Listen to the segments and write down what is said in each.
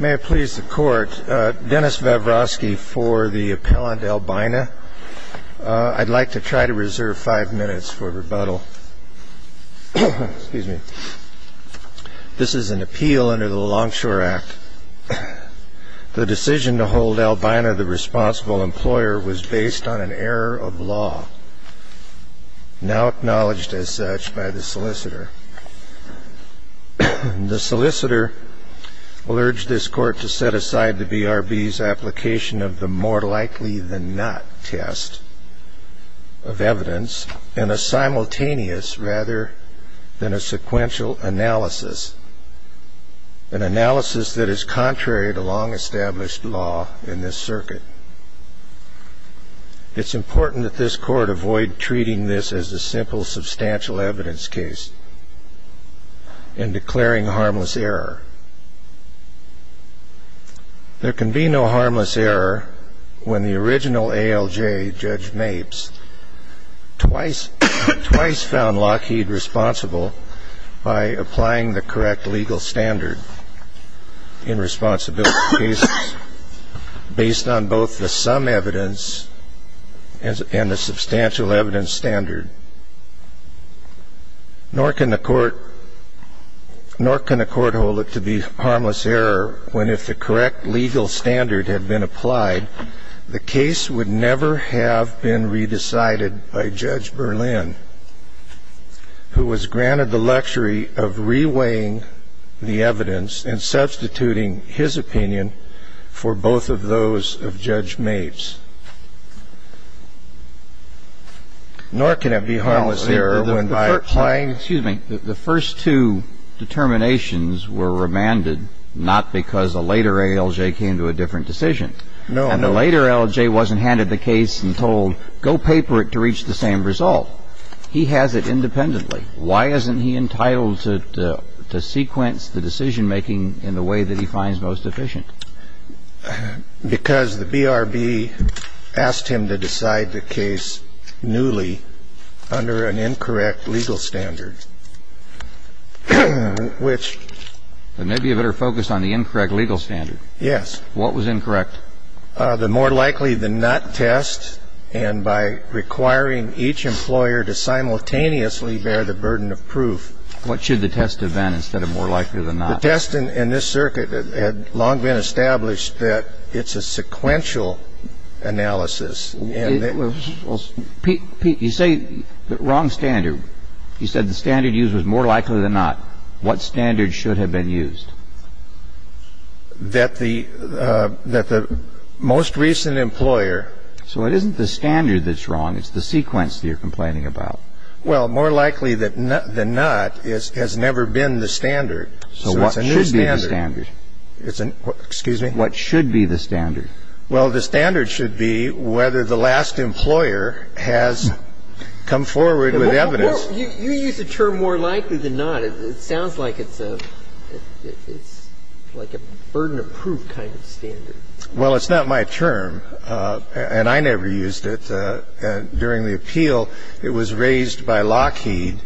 May it please the court, Dennis Vavrosky for the appellant Albina. I'd like to try to reserve five minutes for rebuttal. This is an appeal under the Longshore Act. The decision to hold Albina the responsible employer was based on an error of law, now acknowledged as such by the solicitor. The solicitor will urge this court to set aside the BRB's application of the more likely than not test of evidence in a simultaneous rather than a sequential analysis. An analysis that is contrary to long established law in this circuit. It's important that this court avoid treating this as a simple substantial evidence case in declaring harmless error. There can be no harmless error when the original ALJ, Judge Mapes, twice found Lockheed responsible by applying the correct legal standard in responsibility cases based on both the sum evidence and the substantial evidence standard. Nor can the court hold it to be harmless error when if the correct legal standard had been applied, the case would never have been re-decided by Judge Berlin, who was granted the luxury of re-weighing the evidence and substituting his opinion for both of those of Judge Mapes. Nor can it be harmless error when by applying. Excuse me. The first two determinations were remanded not because a later ALJ came to a different decision. No. And the later ALJ wasn't handed the case and told, go paper it to reach the same result. He has it independently. Why isn't he entitled to sequence the decision making in the way that he finds most efficient? Because the BRB asked him to decide the case newly under an incorrect legal standard, which. Maybe you better focus on the incorrect legal standard. Yes. What was incorrect? The more likely than not test and by requiring each employer to simultaneously bear the burden of proof. What should the test have been instead of more likely than not? The test in this circuit had long been established that it's a sequential analysis. Well, Pete, you say the wrong standard. You said the standard used was more likely than not. What standard should have been used? That the most recent employer. So it isn't the standard that's wrong. It's the sequence that you're complaining about. Well, more likely than not has never been the standard. So what should be the standard? Excuse me. What should be the standard? Well, the standard should be whether the last employer has come forward with evidence. You use the term more likely than not. It sounds like it's a burden of proof kind of standard. Well, it's not my term, and I never used it. During the appeal, it was raised by Lockheed,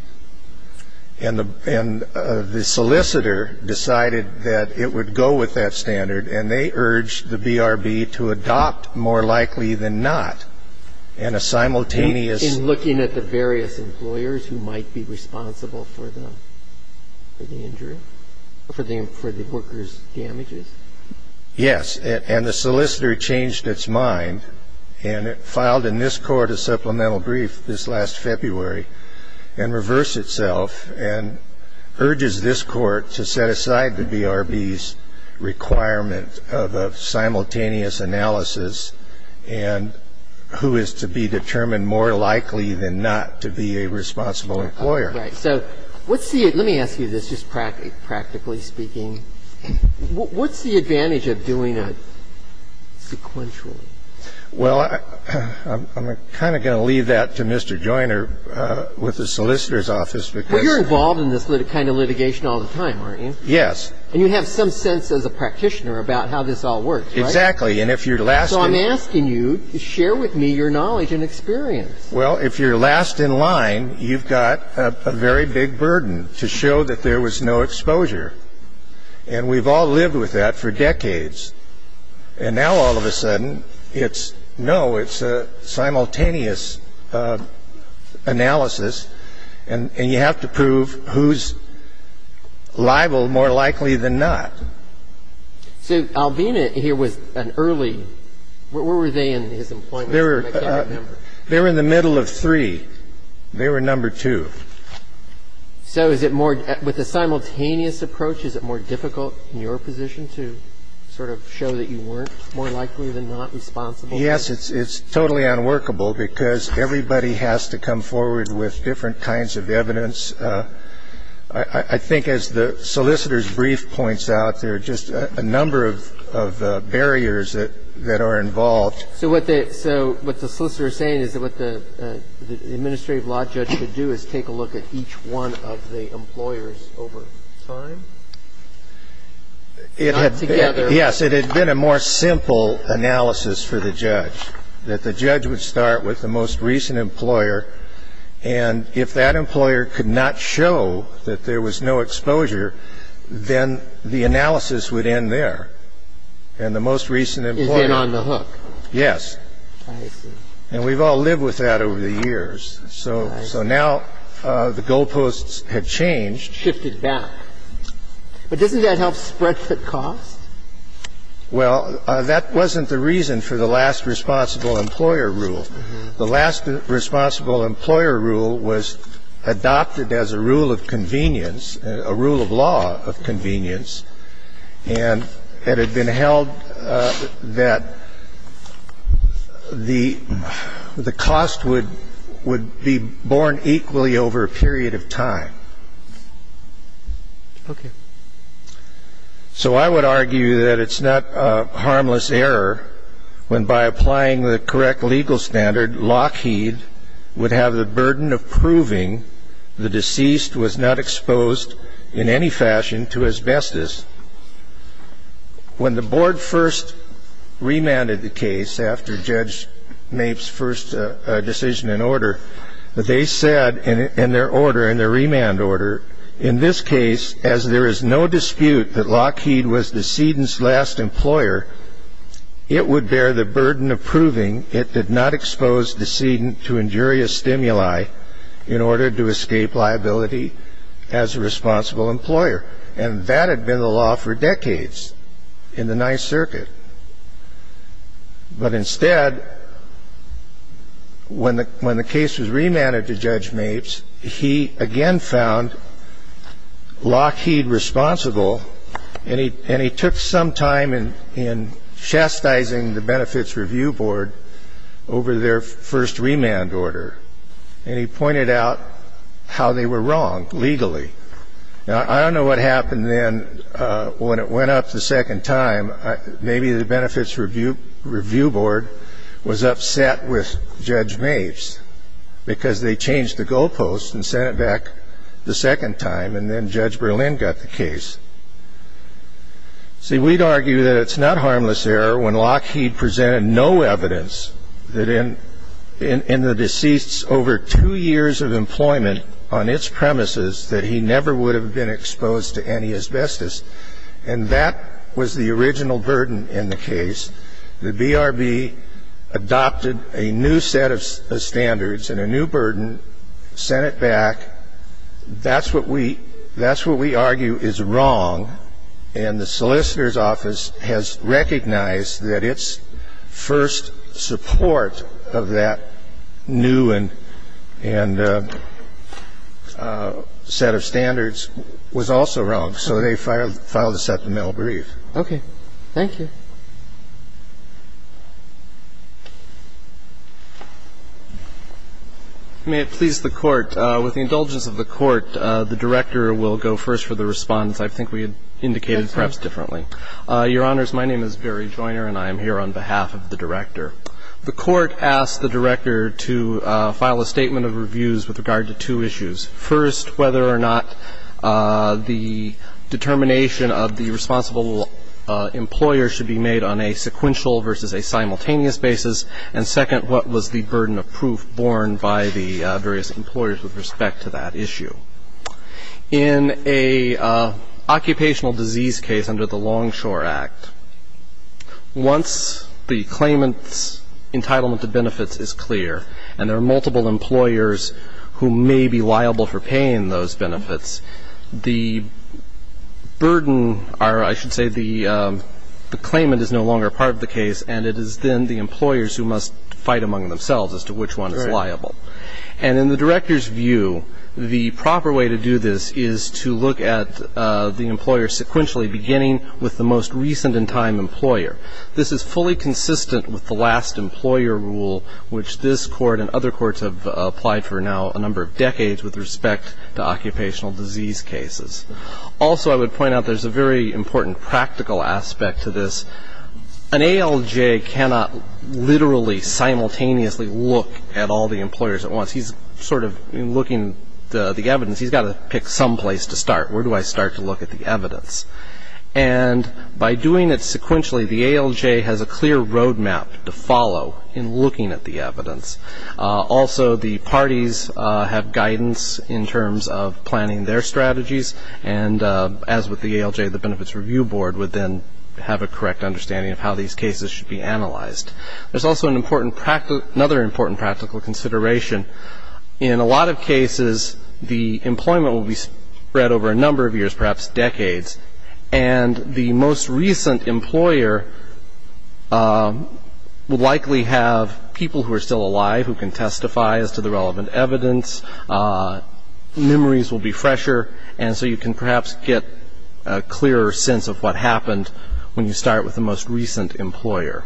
and the solicitor decided that it would go with that standard, and they urged the BRB to adopt more likely than not in a simultaneous In looking at the various employers who might be responsible for the workers' damages? Yes, and the solicitor changed its mind and filed in this court a supplemental brief this last February and reversed itself and urges this court to set aside the BRB's requirement of a simultaneous analysis and who is to be determined more likely than not to be a responsible employer. Right. So let me ask you this, just practically speaking. What's the advantage of doing it sequentially? Well, I'm kind of going to leave that to Mr. Joyner with the solicitor's office because Well, you're involved in this kind of litigation all the time, aren't you? Yes. And you have some sense as a practitioner about how this all works, right? Exactly. And if you're last in line So I'm asking you to share with me your knowledge and experience. Well, if you're last in line, you've got a very big burden to show that there was no exposure. And we've all lived with that for decades. And now all of a sudden, it's, no, it's a simultaneous analysis, and you have to prove who's liable more likely than not. So Albina here was an early, where were they in his employment? They were in the middle of three. They were number two. So is it more, with a simultaneous approach, is it more difficult in your position to sort of show that you weren't more likely than not responsible? Yes. It's totally unworkable because everybody has to come forward with different kinds of evidence. I think as the solicitor's brief points out, there are just a number of barriers that are involved. So what the solicitor is saying is that what the administrative law judge should do is take a look at each one of the employers over time? Not together. Yes. It had been a more simple analysis for the judge, that the judge would start with the most recent employer, and if that employer could not show that there was no exposure, then the analysis would end there. And the most recent employer ---- Is then on the hook. Yes. I see. And we've all lived with that over the years. So now the goalposts have changed. Shifted back. But doesn't that help spread the cost? Well, that wasn't the reason for the last responsible employer rule. The last responsible employer rule was adopted as a rule of convenience, a rule of law of convenience, and it had been held that the cost would be borne equally over a period of time. Okay. So I would argue that it's not a harmless error when, by applying the correct legal standard, Lockheed would have the burden of proving the deceased was not exposed in any fashion to asbestos. When the board first remanded the case after Judge Mapes' first decision and order, they said in their order, in their remand order, in this case, as there is no dispute that Lockheed was the decedent's last employer, it would bear the burden of proving it did not expose the decedent to injurious stimuli in order to escape liability as a responsible employer. And that had been the law for decades in the Ninth Circuit. But instead, when the case was remanded to Judge Mapes, he again found Lockheed responsible, and he took some time in chastising the Benefits Review Board over their first remand order, and he pointed out how they were wrong legally. Now, I don't know what happened then when it went up the second time. Maybe the Benefits Review Board was upset with Judge Mapes because they changed the goalposts and sent it back the second time, and then Judge Berlin got the case. See, we'd argue that it's not harmless error when Lockheed presented no evidence that in the deceased's over two years of employment on its premises that he never would have been exposed to any asbestos. And that was the original burden in the case. The BRB adopted a new set of standards and a new burden, sent it back. That's what we argue is wrong, and the solicitor's office has recognized that its first support of that new set of standards was also wrong. And so you're saying the Old Court was a little bit more thoughtful, and they were more vocal about the New Court's position. So they filed a second mail brief. Okay. Thank you. May it please the Court. With the indulgence of the Court, the director will go first for the response. I think we had indicated perhaps differently. Your Honors, my name is Barry Joyner, and I am here on behalf of the director. The Court asked the director to file a statement of reviews with regard to two issues. First, whether or not the determination of the responsible employer should be made on a sequential versus a simultaneous basis. And second, what was the burden of proof borne by the various employers with respect to that issue. In an occupational disease case under the Longshore Act, once the claimant's entitlement to benefits is clear, and there are multiple employers who may be liable for paying those benefits, the burden or I should say the claimant is no longer part of the case, and it is then the employers who must fight among themselves as to which one is liable. And in the director's view, the proper way to do this is to look at the employer sequentially, beginning with the most recent in time employer. This is fully consistent with the last employer rule, which this Court and other courts have applied for now a number of decades with respect to occupational disease cases. Also, I would point out there's a very important practical aspect to this. An ALJ cannot literally simultaneously look at all the employers at once. He's sort of looking at the evidence. He's got to pick some place to start. Where do I start to look at the evidence? And by doing it sequentially, the ALJ has a clear roadmap to follow in looking at the evidence. Also, the parties have guidance in terms of planning their strategies, and as with the ALJ, the Benefits Review Board would then have a correct understanding of how these cases should be analyzed. There's also another important practical consideration. In a lot of cases, the employment will be spread over a number of years, perhaps decades, and the most recent employer will likely have people who are still alive who can testify as to the relevant evidence. Memories will be fresher, and so you can perhaps get a clearer sense of what happened when you start with the most recent employer.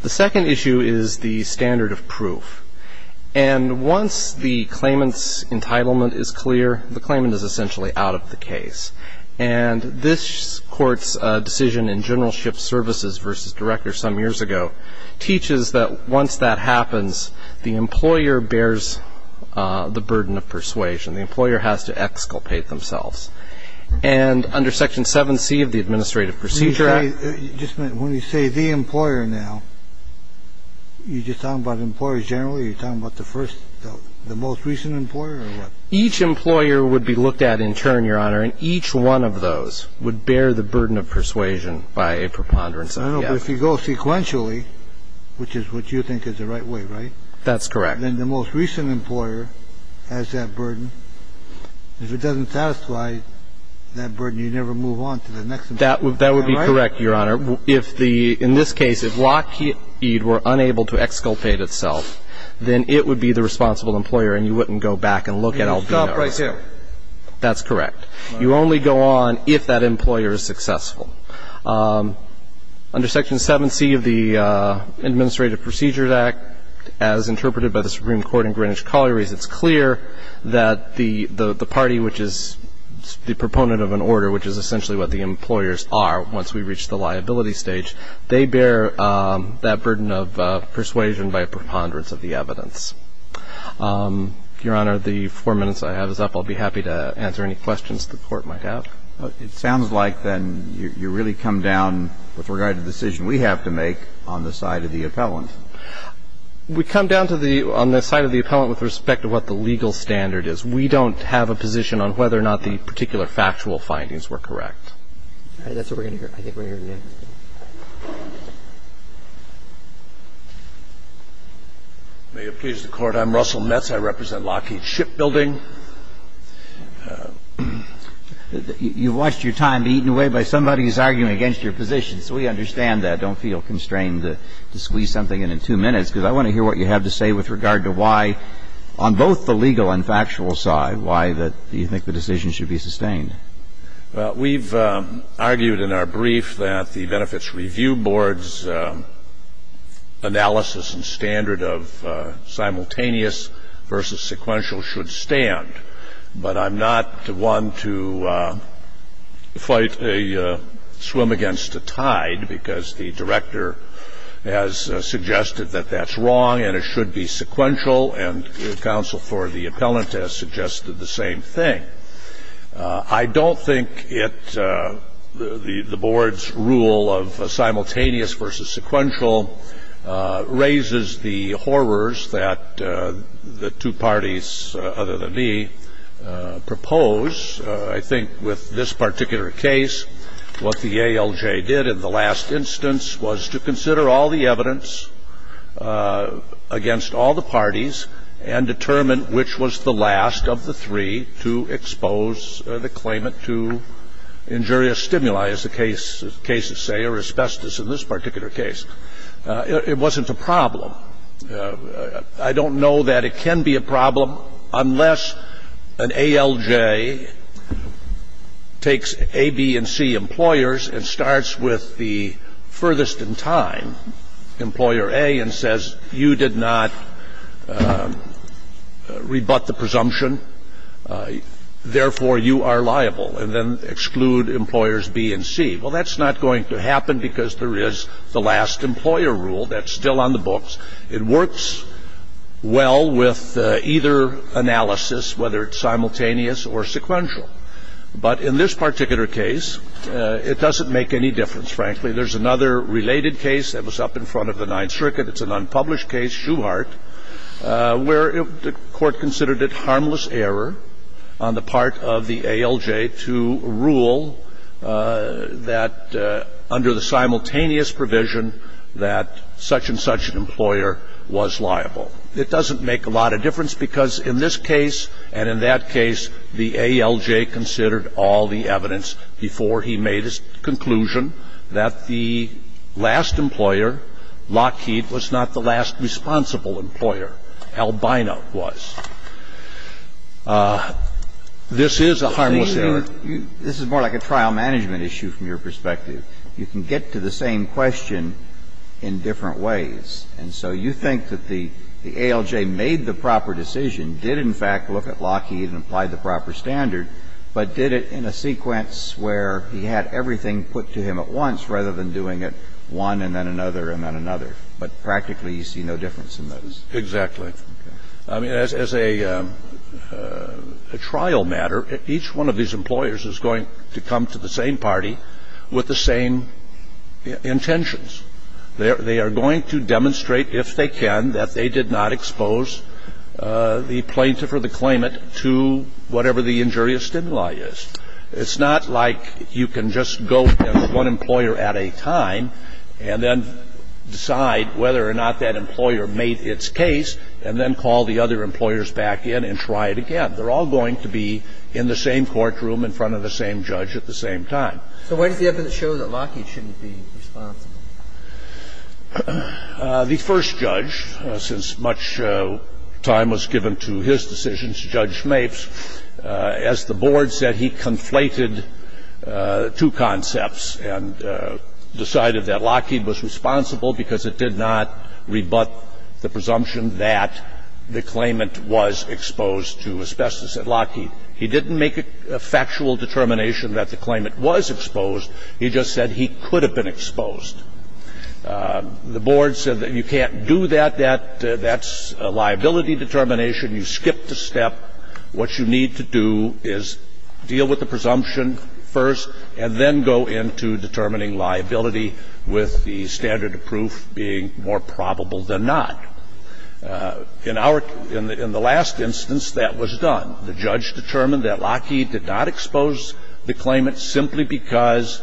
The second issue is the standard of proof. And once the claimant's entitlement is clear, the claimant is essentially out of the case. And this Court's decision in General Ships Services v. Director some years ago teaches that once that happens, the employer bears the burden of persuasion. The employer has to exculpate themselves. And under Section 7C of the Administrative Procedure Act ---- I'm sorry. Just a minute. When you say the employer now, are you just talking about employers generally? Are you talking about the first, the most recent employer or what? Each employer would be looked at in turn, Your Honor, and each one of those would bear the burden of persuasion by a preponderance of the evidence. I know, but if you go sequentially, which is what you think is the right way, right? That's correct. Then the most recent employer has that burden. If it doesn't satisfy that burden, you never move on to the next employer. That would be correct, Your Honor. If the ---- in this case, if Lockheed were unable to exculpate itself, then it would be the responsible employer and you wouldn't go back and look at Albino. Can you stop right here? That's correct. You only go on if that employer is successful. Under Section 7C of the Administrative Procedure Act, as interpreted by the Supreme Court in Greenwich Colliery, it's clear that the party which is the proponent of an order, which is essentially what the employers are once we reach the liability stage, they bear that burden of persuasion by a preponderance of the evidence. Your Honor, the four minutes I have is up. I'll be happy to answer any questions the Court might have. It sounds like, then, you really come down with regard to the decision we have to make on the side of the appellant. We come down to the ---- on the side of the appellant with respect to what the legal standard is. If we don't have a position on whether or not the particular factual findings were correct. All right. That's what we're going to hear. I think we're going to hear the evidence. May it please the Court. I'm Russell Metz. I represent Lockheed Shipbuilding. You watched your time be eaten away by somebody who's arguing against your position, so we understand that. Don't feel constrained to squeeze something in in two minutes because I want to hear what you have to say with regard to why, on both the legal and factual side, why do you think the decision should be sustained? Well, we've argued in our brief that the Benefits Review Board's analysis and standard of simultaneous versus sequential should stand. But I'm not one to fight a swim against a tide, because the director has suggested that that's wrong and it should be sequential, and counsel for the appellant has suggested the same thing. I don't think the board's rule of simultaneous versus sequential raises the horrors that the two parties, other than me, propose. I think with this particular case, what the ALJ did in the last instance was to consider all the evidence against all the parties and determine which was the last of the three to expose the claimant to injurious stimuli, as the cases say, or asbestos in this particular case. It wasn't a problem. I don't know that it can be a problem unless an ALJ takes A, B, and C employers and starts with the furthest in time, employer A, and says, you did not rebut the presumption, therefore you are liable, and then exclude employers B and C. Well, that's not going to happen because there is the last employer rule. That's still on the books. It works well with either analysis, whether it's simultaneous or sequential. But in this particular case, it doesn't make any difference, frankly. There's another related case that was up in front of the Ninth Circuit. It's an unpublished case, Shuhart, where the court considered it harmless error on the part of the ALJ to rule that under the simultaneous provision that such and such an employer was liable. It doesn't make a lot of difference because in this case and in that case, the ALJ considered all the evidence before he made his conclusion that the last employer, Lockheed, was not the last responsible employer. Albina was. This is a harmless error. This is more like a trial management issue from your perspective. You can get to the same question in different ways. And so you think that the ALJ made the proper decision, did in fact look at Lockheed and apply the proper standard, but did it in a sequence where he had everything put to him at once rather than doing it one and then another and then another. But practically you see no difference in those. Exactly. I mean, as a trial matter, each one of these employers is going to come to the same party with the same intentions. They are going to demonstrate, if they can, that they did not expose the plaintiff or the claimant to whatever the injurious stimuli is. It's not like you can just go to one employer at a time and then decide whether or not that employer made its case and then call the other employers back in and try it again. They're all going to be in the same courtroom in front of the same judge at the same time. So why does the evidence show that Lockheed shouldn't be responsible? The first judge, since much time was given to his decisions, Judge Schmaves, as the board said, he conflated two concepts and decided that Lockheed was responsible because it did not rebut the presumption that the claimant was exposed to asbestos. Lockheed, he didn't make a factual determination that the claimant was exposed. He just said he could have been exposed. The board said that you can't do that. That's a liability determination. You skipped a step. What you need to do is deal with the presumption first and then go into determining liability with the standard of proof being more probable than not. In the last instance, that was done. The judge determined that Lockheed did not expose the claimant simply because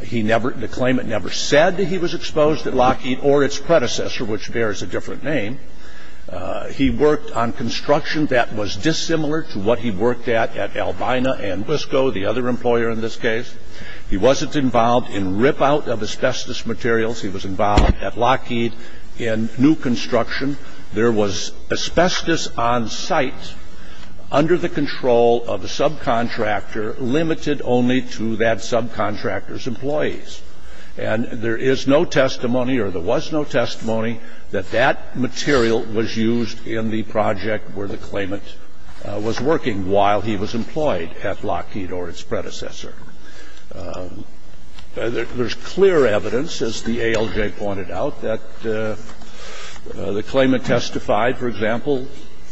the claimant never said that he was exposed at Lockheed or its predecessor, which bears a different name. He worked on construction that was dissimilar to what he worked at at Albina and Wisco, the other employer in this case. He wasn't involved in rip out of asbestos materials. He was involved at Lockheed in new construction. There was asbestos on site under the control of a subcontractor limited only to that subcontractor's employees. There is no testimony or there was no testimony that that material was used in the project where the claimant was working while he was employed at Lockheed or its predecessor. There's clear evidence, as the ALJ pointed out, that the claimant testified, for example,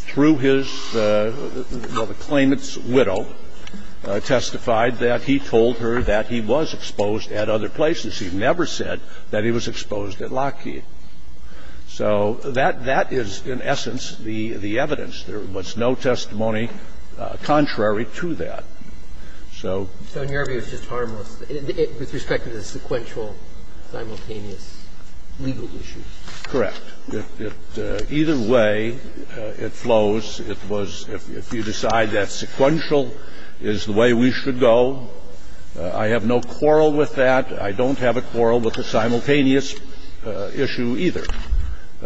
through his ñ well, the claimant's widow testified that he told her that he was exposed at other places. He never said that he was exposed at Lockheed. So that is, in essence, the evidence. There was no testimony contrary to that. So ñ So in your view, it's just harmless with respect to the sequential simultaneous legal issues? Correct. It ñ either way, it flows. It was if you decide that sequential is the way we should go, I have no quarrel with that. And I don't have a quarrel with the simultaneous issue either.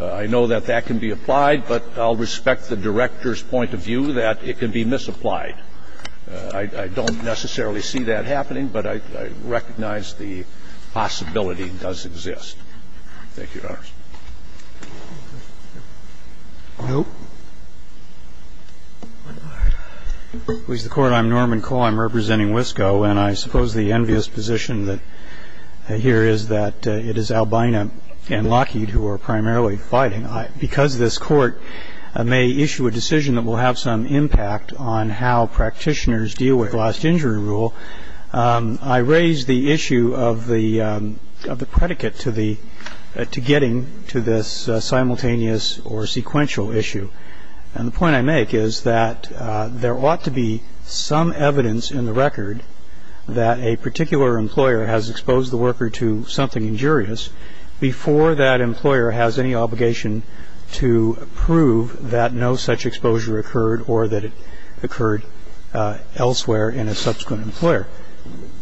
I know that that can be applied, but I'll respect the Director's point of view that it can be misapplied. I don't necessarily see that happening, but I recognize the possibility does exist. Thank you, Your Honors. No? Please, the Court. I'm Norman Cole. I'm representing WSCO, and I suppose the envious position here is that it is Albina and Lockheed who are primarily fighting. Because this Court may issue a decision that will have some impact on how practitioners deal with last injury rule, I raise the issue of the predicate to getting to this simultaneous or sequential issue. And the point I make is that there ought to be some evidence in the record that a particular employer has exposed the worker to something injurious before that employer has any obligation to prove that no such exposure occurred or that it occurred elsewhere in a subsequent employer.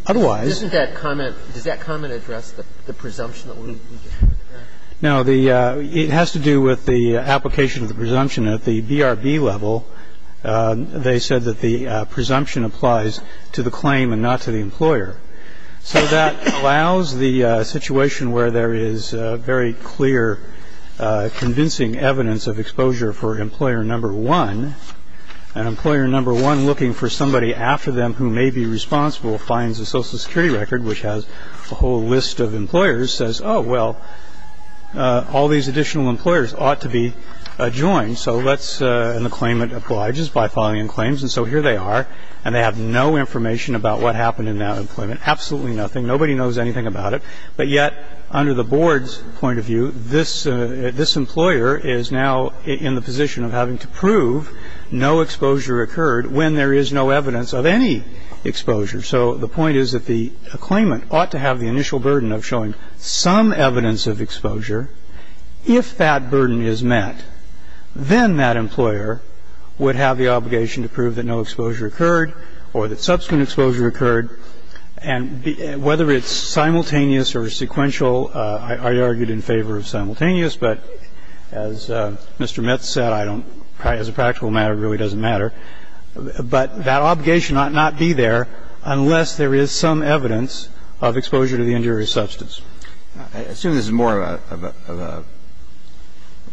Otherwise ñ Doesn't that comment ñ does that comment address the presumption that we need to have that? No. It has to do with the application of the presumption at the BRB level. They said that the presumption applies to the claim and not to the employer. So that allows the situation where there is very clear, convincing evidence of exposure for employer number one. And employer number one, looking for somebody after them who may be responsible, finds a all these additional employers ought to be adjoined. So let's ñ and the claimant obliges by filing claims. And so here they are. And they have no information about what happened in that employment. Absolutely nothing. Nobody knows anything about it. But yet, under the board's point of view, this ñ this employer is now in the position of having to prove no exposure occurred when there is no evidence of any exposure. So the point is that the claimant ought to have the initial burden of showing some evidence of exposure. If that burden is met, then that employer would have the obligation to prove that no exposure occurred or that subsequent exposure occurred. And whether it's simultaneous or sequential, I argued in favor of simultaneous. But as Mr. Mitz said, I don't ñ as a practical matter, it really doesn't matter. But that obligation ought not to be there unless there is some evidence of exposure to the injurious substance. I assume this is more of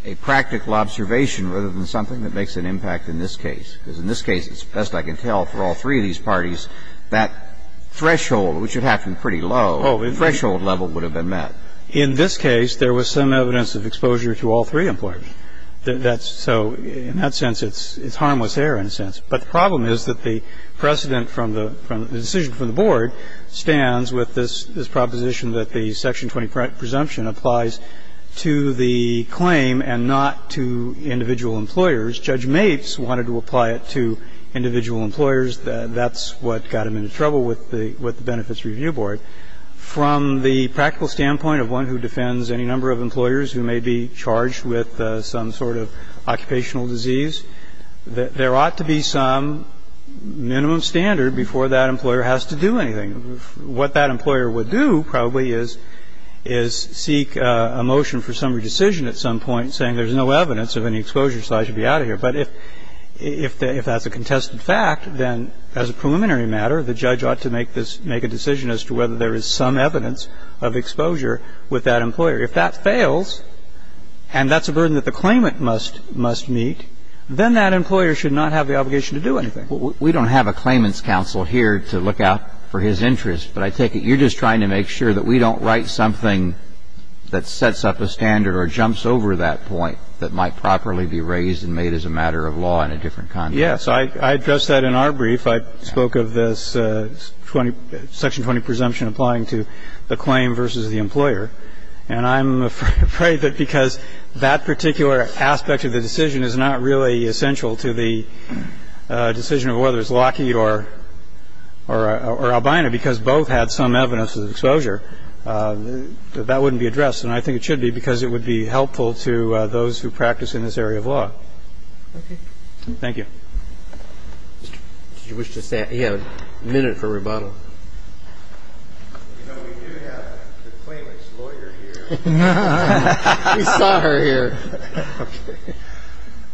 a practical observation rather than something that makes an impact in this case. Because in this case, it's best I can tell for all three of these parties, that threshold, which would have to be pretty low, the threshold level would have been met. In this case, there was some evidence of exposure to all three employers. So in that sense, it's harmless error in a sense. But the problem is that the precedent from the ñ the decision from the board stands with this proposition that the Section 20 presumption applies to the claim and not to individual employers. Judge Maitz wanted to apply it to individual employers. That's what got him into trouble with the Benefits Review Board. From the practical standpoint of one who defends any number of employers who may be charged with some sort of occupational disease, there ought to be some minimum standard before that employer has to do anything. What that employer would do probably is seek a motion for summary decision at some point saying there's no evidence of any exposure, so I should be out of here. But if that's a contested fact, then as a preliminary matter, the judge ought to make this ñ make a decision as to whether there is some evidence of exposure with that employer. If that fails, and that's a burden that the claimant must ñ must meet, then that employer should not have the obligation to do anything. Well, we don't have a claimant's counsel here to look out for his interest, but I take it you're just trying to make sure that we don't write something that sets up a standard or jumps over that point that might properly be raised and made as a matter of law in a different context. Yes. I addressed that in our brief. I spoke of this 20 ñ Section 20 presumption applying to the claim versus the employer. And I'm afraid that because that particular aspect of the decision is not really essential to the decision of whether it's Lockheed or Albina because both had some evidence of exposure, that that wouldn't be addressed. And I think it should be because it would be helpful to those who practice in this area of law. Okay. Thank you. Did you wish to say ñ yeah, a minute for rebuttal. You know, we do have the claimant's lawyer here. We saw her here.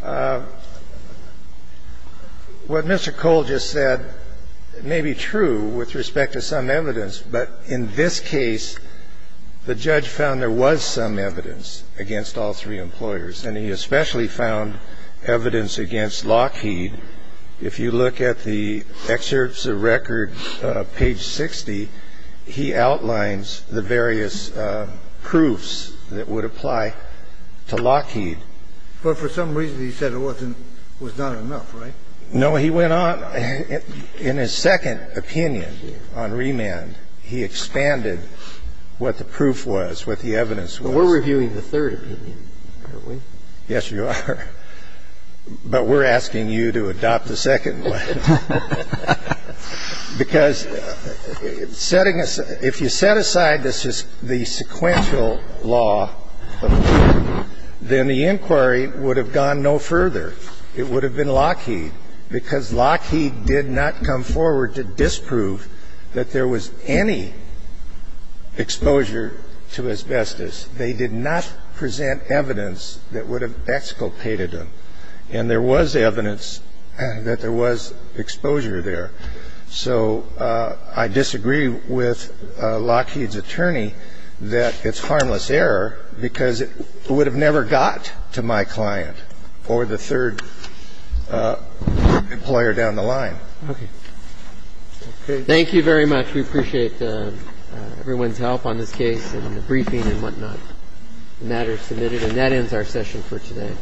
Okay. What Mr. Cole just said may be true with respect to some evidence, but in this case, the judge found there was some evidence against all three employers, and he especially found evidence against Lockheed. Well, the evidence was not enough, was it? No. He went on. In his second opinion on remand, he expanded what the proof was, what the evidence was. Well, we're reviewing the third opinion, aren't we? But we're asking you to expand the evidence. I'm going to adopt the second one because setting aside ñ if you set aside the sequential law, then the inquiry would have gone no further. It would have been Lockheed because Lockheed did not come forward to disprove that there was any exposure to asbestos. They did not present evidence that would have exculpated them. And there was evidence that there was exposure there. So I disagree with Lockheed's attorney that it's harmless error because it would have never got to my client or the third employer down the line. Okay. Thank you very much. We appreciate everyone's help on this case and the briefing and whatnot. The matter is submitted. And that ends our session for today.